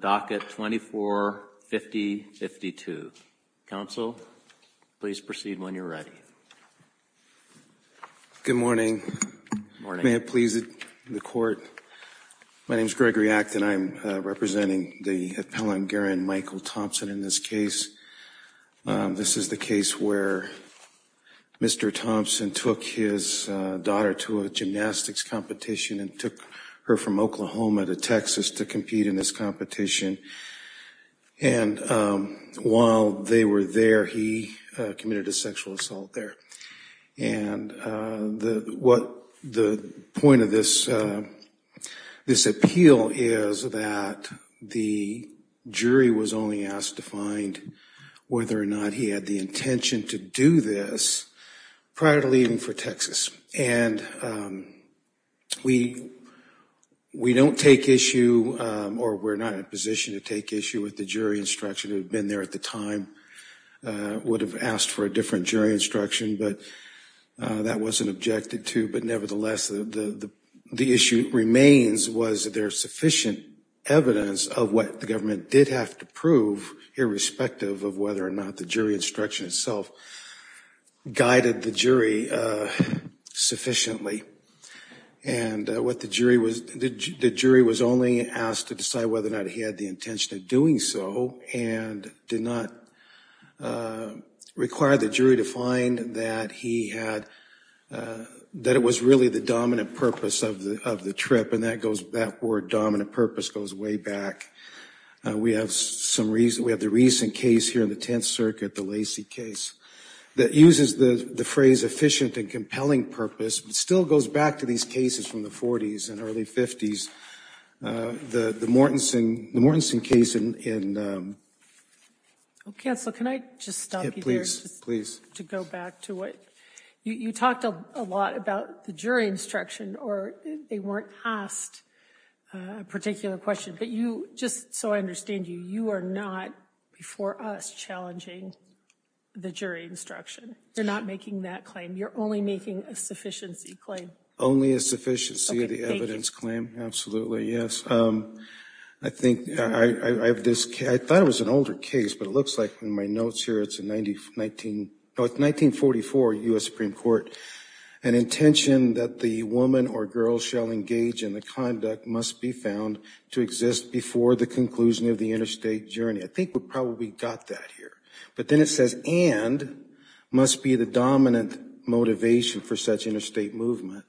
docket 24-50-52. Counsel, please proceed when you're ready. Good morning. May it please the Court. My name is Gregory Act and I'm representing the appellant, Garen Michael Thompson, in this case. This is the case where Mr. Thompson took his daughter to a gymnastics competition and took her from Oklahoma to Texas to compete in this competition. And while they were there, he committed a sexual assault there. And what the point of this appeal is that the jury was only asked to find whether or not he had the intention to do this prior to leaving for Texas. And we don't take issue or we're not in a position to take issue with the jury instruction that had been there at the time, would have asked for a different jury instruction, but that wasn't objected to. But nevertheless, the issue remains was there sufficient evidence of what the government did have to prove irrespective of whether or not the jury instruction itself guided the jury sufficiently. And what the jury was, the jury was only asked to decide whether or not he had the intention of doing so and did not require the jury to find that he had, that it was really the dominant purpose of the trip. And that goes, that word dominant purpose goes way back. We have some reason, we have the recent case here in the phrase efficient and compelling purpose, but it still goes back to these cases from the 40s and early 50s. The Mortensen case in. Counselor, can I just stop you there? Please, please. To go back to what you talked a lot about the jury instruction or they weren't asked a particular question, but you just so I understand you, you are not before us challenging the jury instruction. You're not making that claim. You're only making a sufficiency claim. Only a sufficiency of the evidence claim. Absolutely, yes. I think I have this, I thought it was an older case, but it looks like in my notes here, it's a 19, 1944 U.S. Supreme Court. An intention that the woman or girl shall engage in the conduct must be found to exist before the conclusion of the interstate journey. I think we probably got that here. But then it says and must be the dominant motivation for such interstate movement.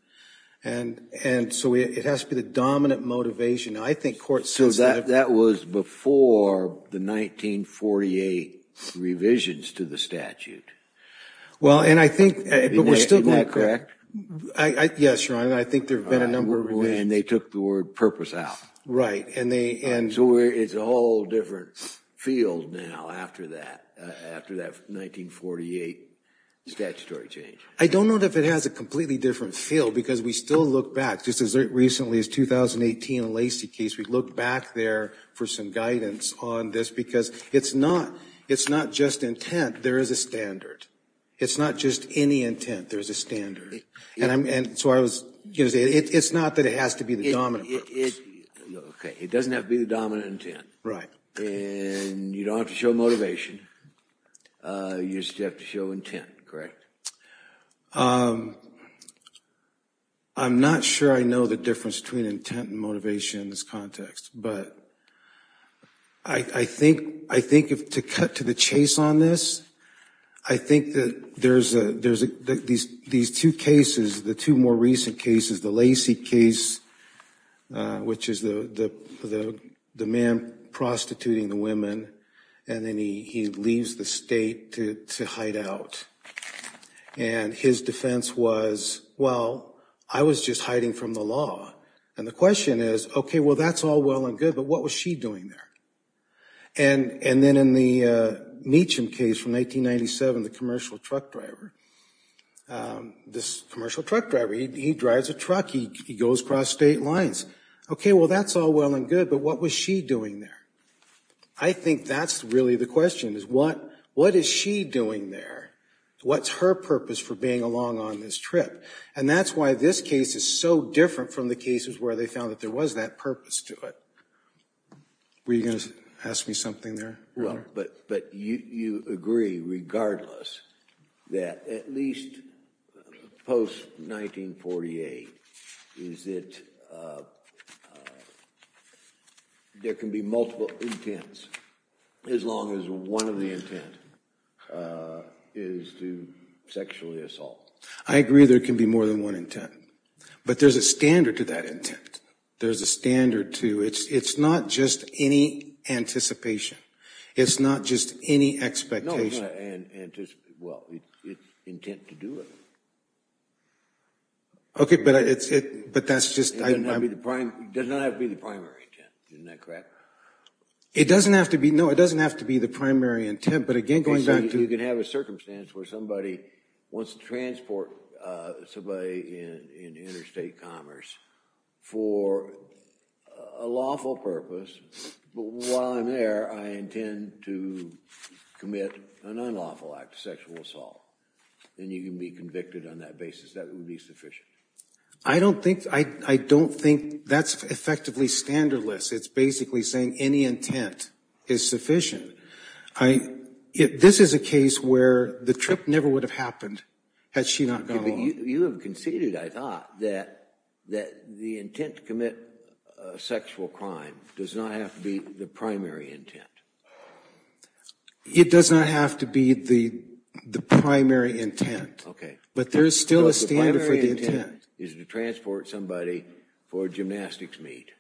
And so it has to be the dominant motivation. I think court says that. So that was before the 1948 revisions to the statute. Well, and I think. Isn't that correct? Yes, Your Honor, I think there have been a number of revisions. And they took the word purpose out. Right. And they and. So it's a whole different field now after that, after that 1948 statutory change. I don't know if it has a completely different feel because we still look back just as recently as 2018 Lacey case. We look back there for some guidance on this because it's not, it's not just intent. There is a standard. It's not just any intent. There's a standard. And so I was going to say it's not that it has to be the dominant purpose. It doesn't have to be the dominant intent. And you don't have to show motivation. You just have to show intent. Correct. I'm not sure I know the difference between intent and motivation in this context, but I think, I think if to cut to the chase on this, I think that there's a, there's a, these, these two cases, the two more recent cases, the Lacey case, which is the man prostituting the women. And then he leaves the state to hide out. And his defense was, well, I was just hiding from the law. And the question is, okay, well, that's all well and good, but what was she doing there? And then in the Meacham case from 1997, the commercial truck driver, this commercial truck driver, he drives a truck, he goes across state lines. Okay, well, that's all well and good, but what was she doing there? I think that's really the question is what, what is she doing there? What's her purpose for being along on this trip? And that's why this case is so different from the cases where they found that there was that purpose to it. Were you going to ask me something there, Your Honor? But, but you, you agree regardless that at least post-1948, is it, there can be multiple intents as long as one of the intent is to sexually assault. I agree there can be more than one intent. But there's a standard to that intent. There's a standard to it. It's not just any anticipation. It's not just any expectation. No, it's not anticipation. Well, it's intent to do it. Okay, but it's, it, but that's just. It doesn't have to be the primary intent. Isn't that correct? It doesn't have to be, no, it doesn't have to be the primary intent. But again, going back to. Well, you can have a circumstance where somebody wants to transport somebody into interstate commerce for a lawful purpose. But while I'm there, I intend to commit an unlawful act, a sexual assault. And you can be convicted on that basis. That would be sufficient. I don't think, I don't think that's effectively standardless. It's basically saying any intent is sufficient. I, this is a case where the trip never would have happened had she not gone along. You have conceded, I thought, that the intent to commit a sexual crime does not have to be the primary intent. It does not have to be the primary intent. Okay. But there's still a standard for the intent. The primary intent is to transport somebody for a gymnastics meet.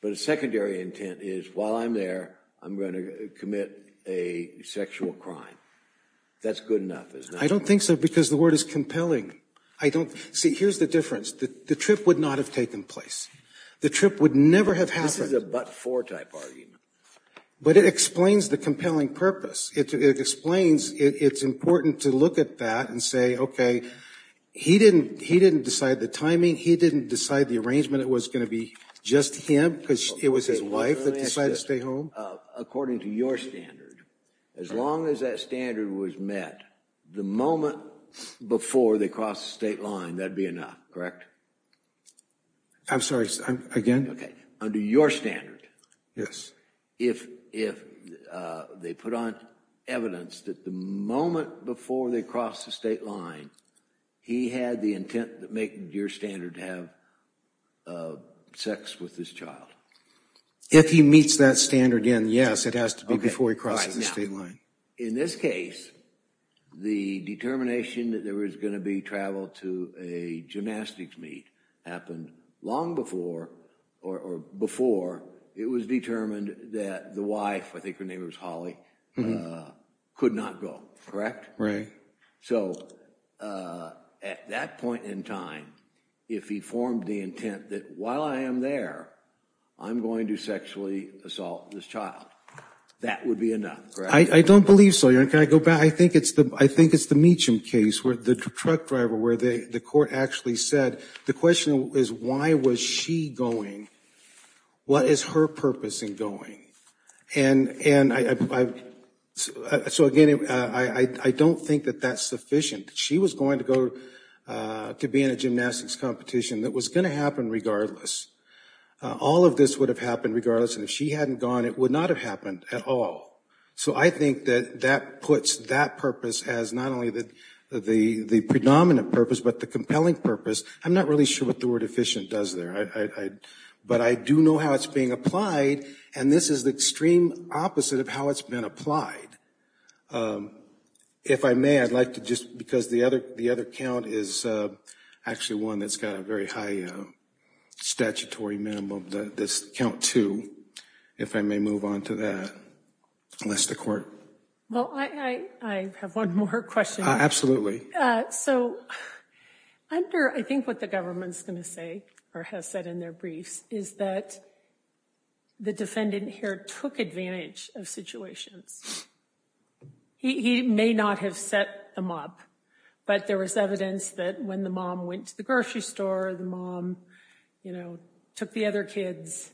But a secondary intent is while I'm there, I'm going to commit a sexual crime. That's good enough, isn't it? I don't think so because the word is compelling. I don't, see, here's the difference. The trip would not have taken place. The trip would never have happened. This is a but-for type argument. But it explains the compelling purpose. It explains it's important to look at that and say, okay, he didn't, he didn't decide the timing. He didn't decide the arrangement. It was going to be just him because it was his wife that decided to stay home. According to your standard, as long as that standard was met, the moment before they crossed the state line, that would be enough, correct? I'm sorry, again? Okay. Under your standard. Yes. If they put on evidence that the moment before they crossed the state line, he had the intent to make your standard have sex with his child. If he meets that standard, yes, it has to be before he crosses the state line. In this case, the determination that there was going to be travel to a gymnastics meet happened long before or before it was determined that the wife, I think her name was Holly, could not go, correct? Right. So at that point in time, if he formed the intent that while I am there, I'm going to sexually assault this child, that would be enough, correct? I don't believe so. Can I go back? I think it's the Meacham case, the truck driver, where the court actually said the question is why was she going? What is her purpose in going? And so, again, I don't think that that's sufficient. She was going to go to be in a gymnastics competition that was going to happen regardless. All of this would have happened regardless, and if she hadn't gone, it would not have happened at all. So I think that that puts that purpose as not only the predominant purpose, but the compelling purpose. I'm not really sure what the word efficient does there, but I do know how it's being applied, and this is the extreme opposite of how it's been applied. If I may, I'd like to just, because the other count is actually one that's got a very high statutory minimum, this count two, if I may move on to that, unless the court. Well, I have one more question. So under, I think what the government's going to say or has said in their briefs is that the defendant here took advantage of situations. He may not have set them up, but there was evidence that when the mom went to the grocery store, the mom, you know, took the other kids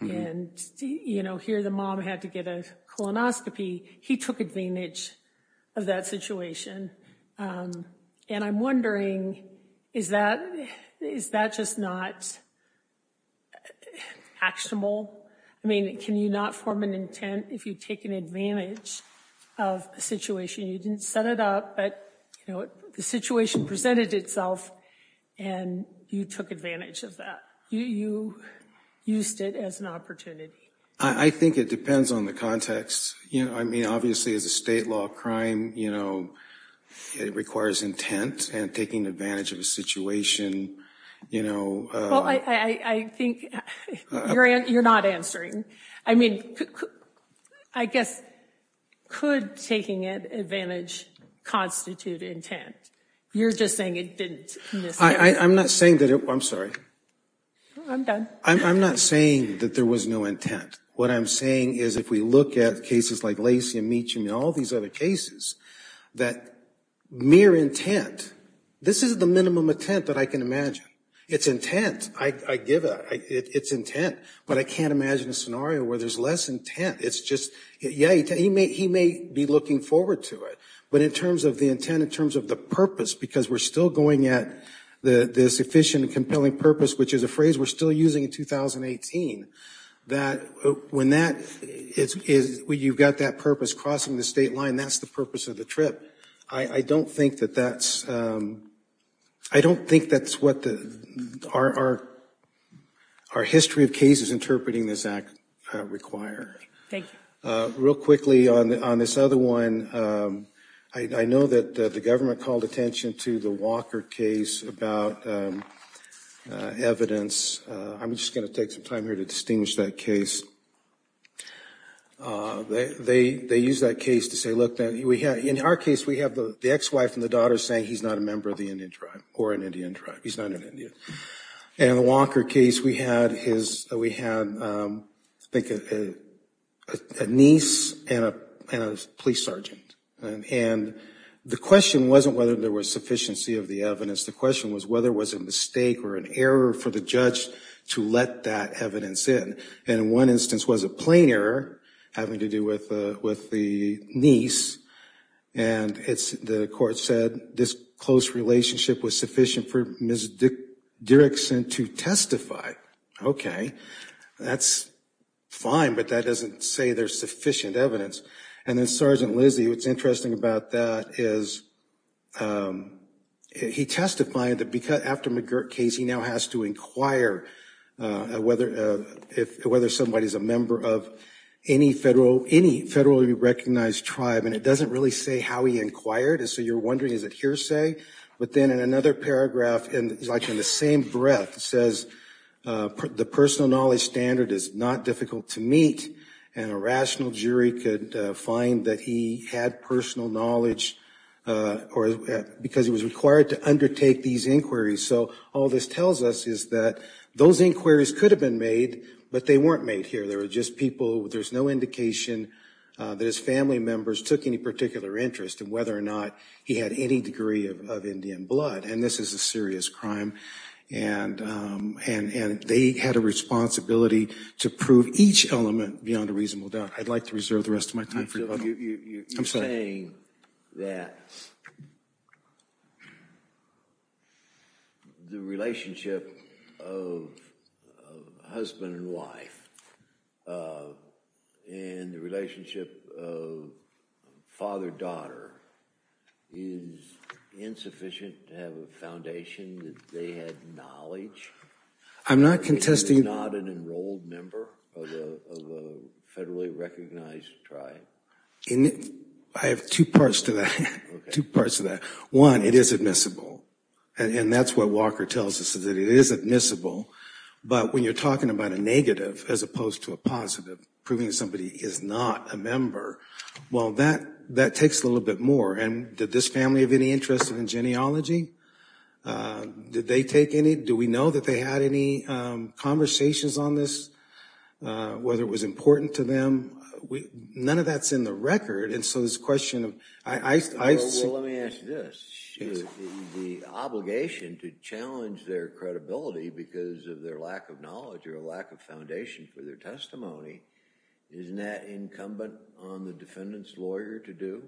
and, you know, here the mom had to get a colonoscopy. He took advantage of that situation, and I'm wondering, is that just not actionable? I mean, can you not form an intent if you take an advantage of a situation? You didn't set it up, but, you know, the situation presented itself, and you took advantage of that. You used it as an opportunity. I think it depends on the context. You know, I mean, obviously as a state law crime, you know, it requires intent, and taking advantage of a situation, you know. Well, I think you're not answering. I mean, I guess could taking advantage constitute intent? You're just saying it didn't in this case. I'm not saying that it, I'm sorry. I'm done. I'm not saying that there was no intent. What I'm saying is if we look at cases like Lacey and Meacham and all these other cases, that mere intent, this is the minimum intent that I can imagine. It's intent. I give it. It's intent, but I can't imagine a scenario where there's less intent. It's just, yeah, he may be looking forward to it, but in terms of the intent, in terms of the purpose, because we're still going at this efficient and compelling purpose, which is a phrase we're still using in 2018, that when that, you've got that purpose crossing the state line, that's the purpose of the trip. I don't think that that's, I don't think that's what our history of cases interpreting this act require. Thank you. Real quickly on this other one, I know that the government called attention to the Walker case about evidence. I'm just going to take some time here to distinguish that case. They used that case to say, look, in our case, we have the ex-wife and the daughter saying he's not a member of the Indian tribe or an Indian tribe. He's not an Indian. And in the Walker case, we had his, we had, I think, a niece and a police sergeant. And the question wasn't whether there was sufficiency of the evidence. The question was whether it was a mistake or an error for the judge to let that evidence in. And in one instance was a plain error having to do with the niece. And the court said this close relationship was sufficient for Ms. Dierickson to testify. OK, that's fine. But that doesn't say there's sufficient evidence. And then Sergeant Lizzie, what's interesting about that is he testified that after McGirt case, he now has to inquire whether somebody is a member of any federal, any federally recognized tribe. And it doesn't really say how he inquired. And so you're wondering, is it hearsay? But then in another paragraph, like in the same breath, it says the personal knowledge standard is not difficult to meet. And a rational jury could find that he had personal knowledge because he was required to undertake these inquiries. So all this tells us is that those inquiries could have been made, but they weren't made here. They were just people. There's no indication that his family members took any particular interest in whether or not he had any degree of Indian blood. And this is a serious crime. And they had a responsibility to prove each element beyond a reasonable doubt. I'd like to reserve the rest of my time for you. You're saying that the relationship of husband and wife and the relationship of father-daughter is insufficient to have a foundation that they had knowledge? I'm not contesting. Is he not an enrolled member of the federally recognized tribe? I have two parts to that. Two parts to that. One, it is admissible. And that's what Walker tells us, is that it is admissible. But when you're talking about a negative as opposed to a positive, proving somebody is not a member, well, that takes a little bit more. And did this family have any interest in genealogy? Did they take any? Do we know that they had any conversations on this, whether it was important to them? None of that's in the record. And so this question of – Well, let me ask you this. The obligation to challenge their credibility because of their lack of knowledge or lack of foundation for their testimony, isn't that incumbent on the defendant's lawyer to do?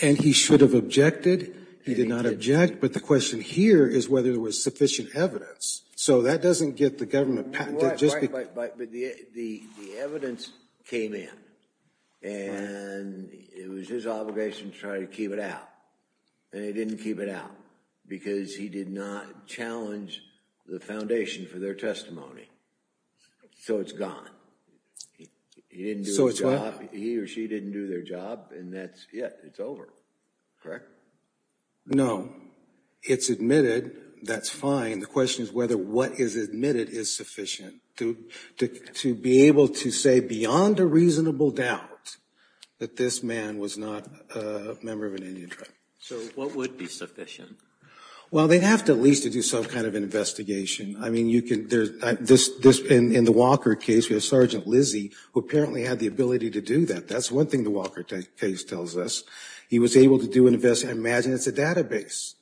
And he should have objected. He did not object. But the question here is whether there was sufficient evidence. So that doesn't get the government – But the evidence came in. And it was his obligation to try to keep it out. And he didn't keep it out because he did not challenge the foundation for their testimony. So it's gone. He didn't do his job. He or she didn't do their job. And that's it. It's over. Correct? It's admitted. That's fine. The question is whether what is admitted is sufficient to be able to say beyond a reasonable doubt that this man was not a member of an Indian tribe. So what would be sufficient? Well, they'd have to at least do some kind of investigation. I mean, you can – in the Walker case, we have Sergeant Lizzie, who apparently had the ability to do that. That's one thing the Walker case tells us. He was able to do an investigation. I imagine it's a database.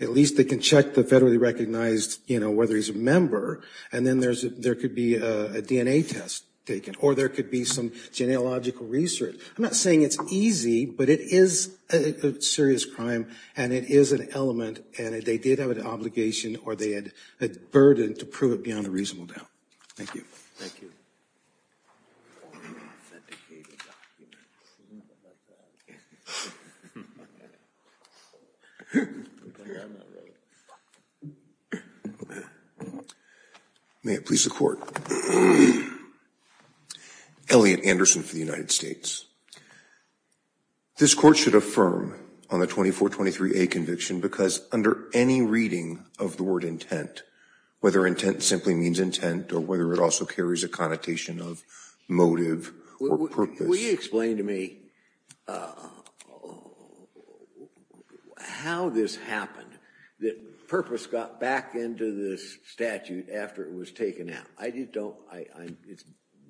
At least they can check the federally recognized, you know, whether he's a member. And then there could be a DNA test taken. Or there could be some genealogical research. I'm not saying it's easy, but it is a serious crime. And it is an element. And they did have an obligation or they had a burden to prove it beyond a reasonable doubt. Thank you. Thank you. May it please the Court. Elliot Anderson for the United States. This Court should affirm on the 2423A conviction because under any reading of the word intent, whether intent simply means intent or whether it also carries a connotation of motive or purpose. Could you explain to me how this happened, that purpose got back into this statute after it was taken out? I just don't – it's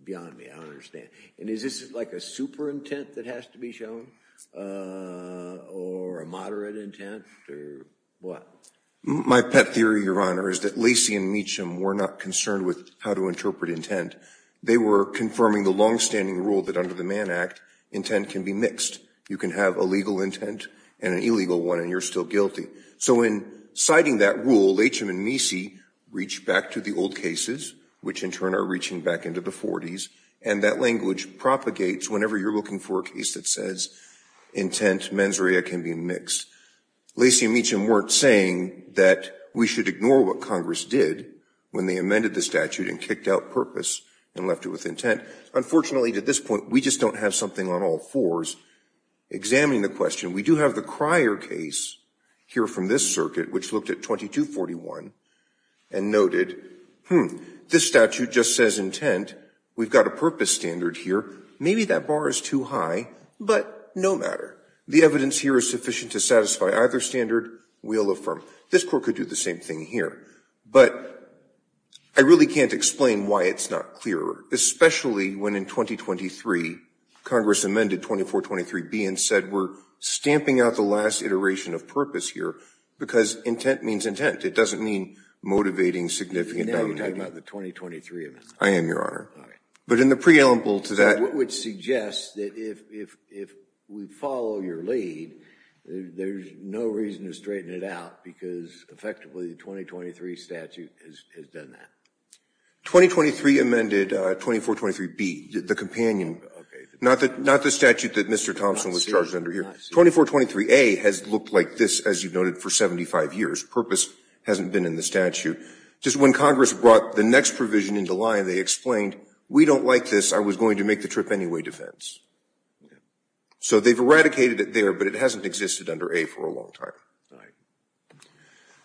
beyond me. I don't understand. And is this like a super intent that has to be shown or a moderate intent or what? My pet theory, Your Honor, is that Lacey and Meacham were not concerned with how to interpret intent. They were confirming the longstanding rule that under the Mann Act, intent can be mixed. You can have a legal intent and an illegal one and you're still guilty. So in citing that rule, Lacey and Meacham reached back to the old cases, which in turn are reaching back into the 40s. And that language propagates whenever you're looking for a case that says intent mens rea can be mixed. Lacey and Meacham weren't saying that we should ignore what Congress did when they amended the statute and kicked out purpose and left it with intent. Unfortunately, to this point, we just don't have something on all fours. Examining the question, we do have the Cryer case here from this circuit, which looked at 2241 and noted, hmm, this statute just says intent. We've got a purpose standard here. Maybe that bar is too high, but no matter. The evidence here is sufficient to satisfy either standard. We'll affirm. This court could do the same thing here. But I really can't explain why it's not clearer, especially when in 2023, Congress amended 2423B and said we're stamping out the last iteration of purpose here because intent means intent. It doesn't mean motivating significant dominating. Now you're talking about the 2023 amendment. I am, Your Honor. All right. But in the preamble to that. It would suggest that if we follow your lead, there's no reason to straighten it out because effectively the 2023 statute has done that. 2023 amended 2423B, the companion. Not the statute that Mr. Thompson was charged under here. 2423A has looked like this, as you noted, for 75 years. Purpose hasn't been in the statute. Just when Congress brought the next provision into line, they explained we don't like this. I was going to make the trip anyway defense. So they've eradicated it there, but it hasn't existed under A for a long time.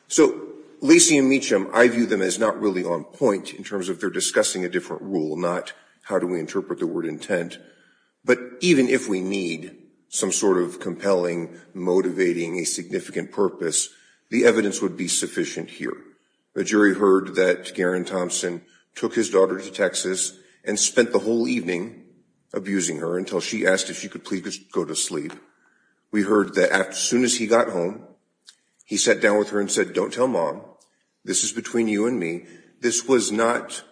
So Lacey and Meacham, I view them as not really on point in terms of they're discussing a different rule, not how do we interpret the word intent. But even if we need some sort of compelling, motivating, a significant purpose, the evidence would be sufficient here. The jury heard that Garen Thompson took his daughter to Texas and spent the whole evening abusing her until she asked if she could please just go to sleep. We heard that as soon as he got home, he sat down with her and said, don't tell mom. This is between you and me. This was not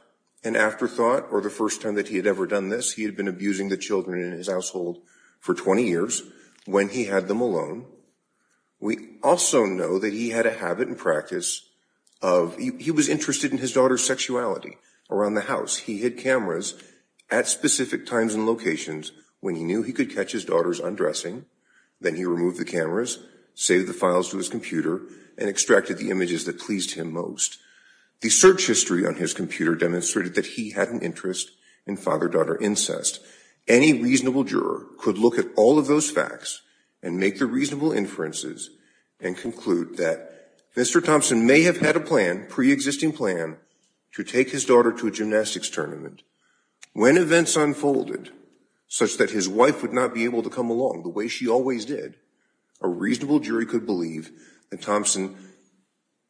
an afterthought or the first time that he had ever done this. He had been abusing the children in his household for 20 years when he had them alone. We also know that he had a habit and practice of he was interested in his daughter's sexuality around the house. He had cameras at specific times and locations when he knew he could catch his daughter's undressing. Then he removed the cameras, save the files to his computer and extracted the images that pleased him most. The search history on his computer demonstrated that he had an interest in father-daughter incest. Any reasonable juror could look at all of those facts and make the reasonable inferences and conclude that Mr. Thompson may have had a plan, pre-existing plan, to take his daughter to a gymnastics tournament. When events unfolded such that his wife would not be able to come along the way she always did, a reasonable jury could believe that Thompson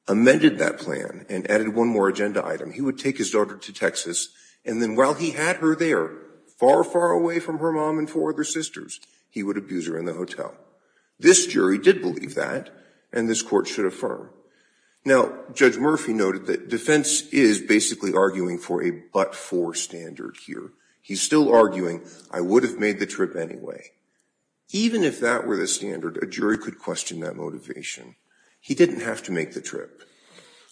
amended that plan and added one more agenda item. He would take his daughter to Texas, and then while he had her there, far, far away from her mom and four other sisters, he would abuse her in the hotel. This jury did believe that, and this court should affirm. Now, Judge Murphy noted that defense is basically arguing for a but-for standard here. He's still arguing, I would have made the trip anyway. Even if that were the standard, a jury could question that motivation. He didn't have to make the trip.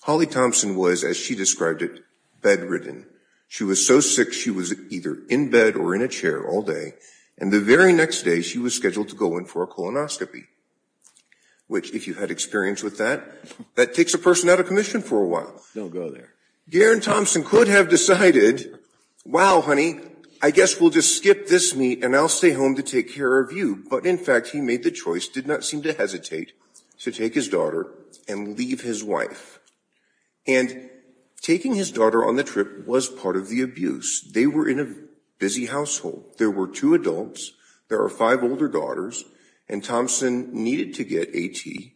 Holly Thompson was, as she described it, bedridden. She was so sick she was either in bed or in a chair all day, and the very next day she was scheduled to go in for a colonoscopy. Which, if you had experience with that, that takes a person out of commission for a while. Don't go there. Garen Thompson could have decided, wow, honey, I guess we'll just skip this meet and I'll stay home to take care of you. But, in fact, he made the choice, did not seem to hesitate, to take his daughter and leave his wife. And taking his daughter on the trip was part of the abuse. They were in a busy household. There were two adults, there were five older daughters, and Thompson needed to get A.T.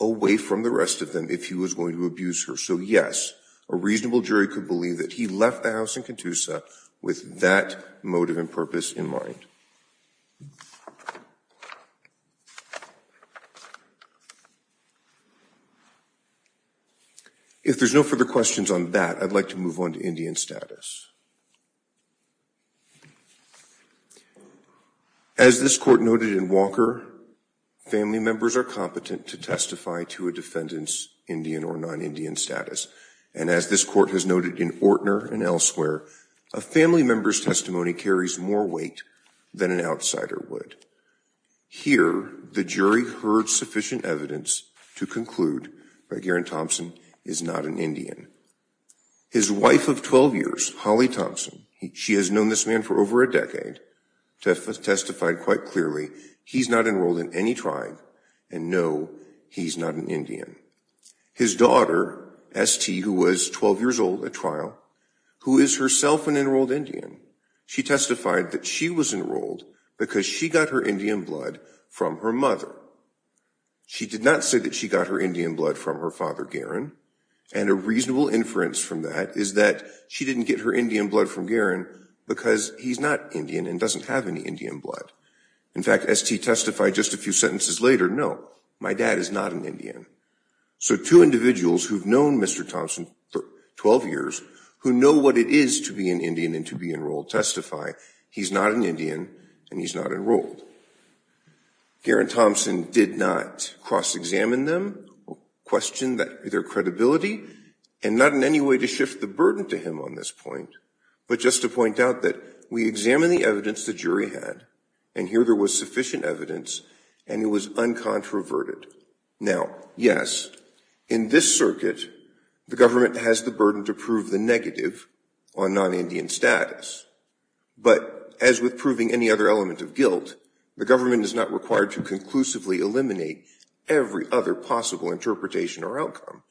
away from the rest of them if he was going to abuse her. So, yes, a reasonable jury could believe that he left the house in Catoosa with that motive and purpose in mind. If there's no further questions on that, I'd like to move on to Indian status. As this court noted in Walker, family members are competent to testify to a defendant's Indian or non-Indian status. And as this court has noted in Ortner and elsewhere, a family member's testimony carries more weight than an outsider would. Here, the jury heard sufficient evidence to conclude that Garen Thompson is not an Indian. His wife of 12 years, Holly Thompson, she has known this man for over a decade, testified quite clearly he's not enrolled in any tribe, and no, he's not an Indian. His daughter, S.T., who was 12 years old at trial, who is herself an enrolled Indian, she testified that she was enrolled because she got her Indian blood from her mother. She did not say that she got her Indian blood from her father, Garen. And a reasonable inference from that is that she didn't get her Indian blood from Garen because he's not Indian and doesn't have any Indian blood. In fact, S.T. testified just a few sentences later, no, my dad is not an Indian. So two individuals who've known Mr. Thompson for 12 years, who know what it is to be an Indian and to be enrolled, testify he's not an Indian and he's not enrolled. Garen Thompson did not cross-examine them, question their credibility, and not in any way to shift the burden to him on this point, but just to point out that we examined the evidence the jury had, and here there was sufficient evidence, and it was uncontroverted. Now, yes, in this circuit, the government has the burden to prove the negative on non-Indian status. But as with proving any other element of guilt, the government is not required to conclusively eliminate every other possible interpretation or outcome.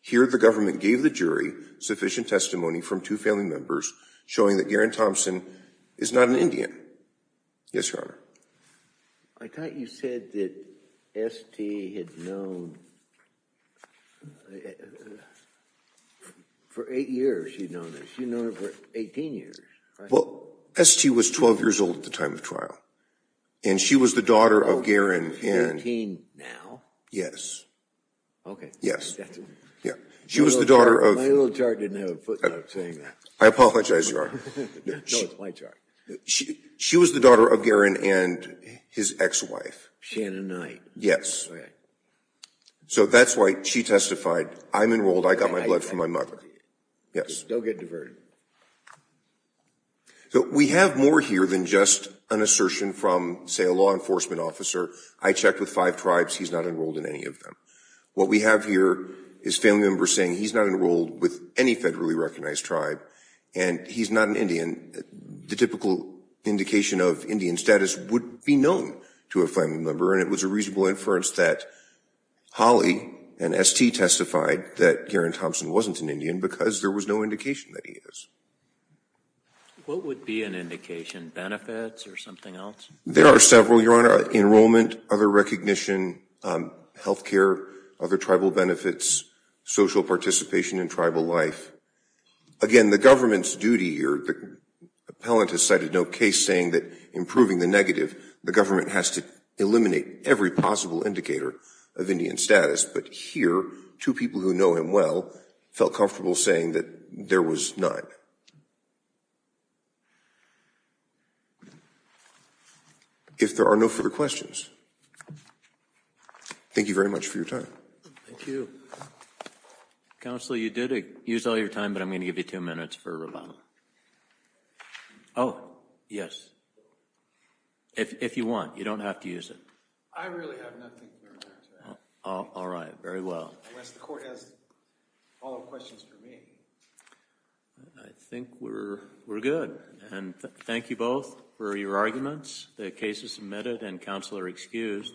Here the government gave the jury sufficient testimony from two family members showing that Garen Thompson is not an Indian. Yes, Your Honor. I thought you said that S.T. had known, for eight years she'd known him. She'd known him for 18 years, right? Well, S.T. was 12 years old at the time of trial, and she was the daughter of Garen and Oh, she's 18 now? Yes. Yes. My little chart didn't have a footnote saying that. I apologize, Your Honor. No, it's my chart. She was the daughter of Garen and his ex-wife. Shanna Knight. Yes. So that's why she testified, I'm enrolled, I got my blood from my mother. Yes. Don't get diverted. So we have more here than just an assertion from, say, a law enforcement officer, I checked with five tribes, he's not enrolled in any of them. What we have here is family members saying he's not enrolled with any federally recognized tribe, and he's not an Indian. The typical indication of Indian status would be known to a family member, and it was a reasonable inference that Holly and S.T. testified that Garen Thompson wasn't an Indian because there was no indication that he is. What would be an indication? Benefits or something else? There are several, Your Honor. Enrollment, other recognition, health care, other tribal benefits, social participation in tribal life. Again, the government's duty here, the appellant has cited no case saying that in proving the negative, the government has to eliminate every possible indicator of Indian status. But here, two people who know him well felt comfortable saying that there was none. If there are no further questions, thank you very much for your time. Thank you. Counsel, you did use all your time, but I'm going to give you two minutes for rebuttal. Oh, yes. If you want. You don't have to use it. I really have nothing more to add. All right. Very well. Unless the court has follow-up questions for me. I think we're good. And thank you both for your arguments. The case is submitted and counsel are excused.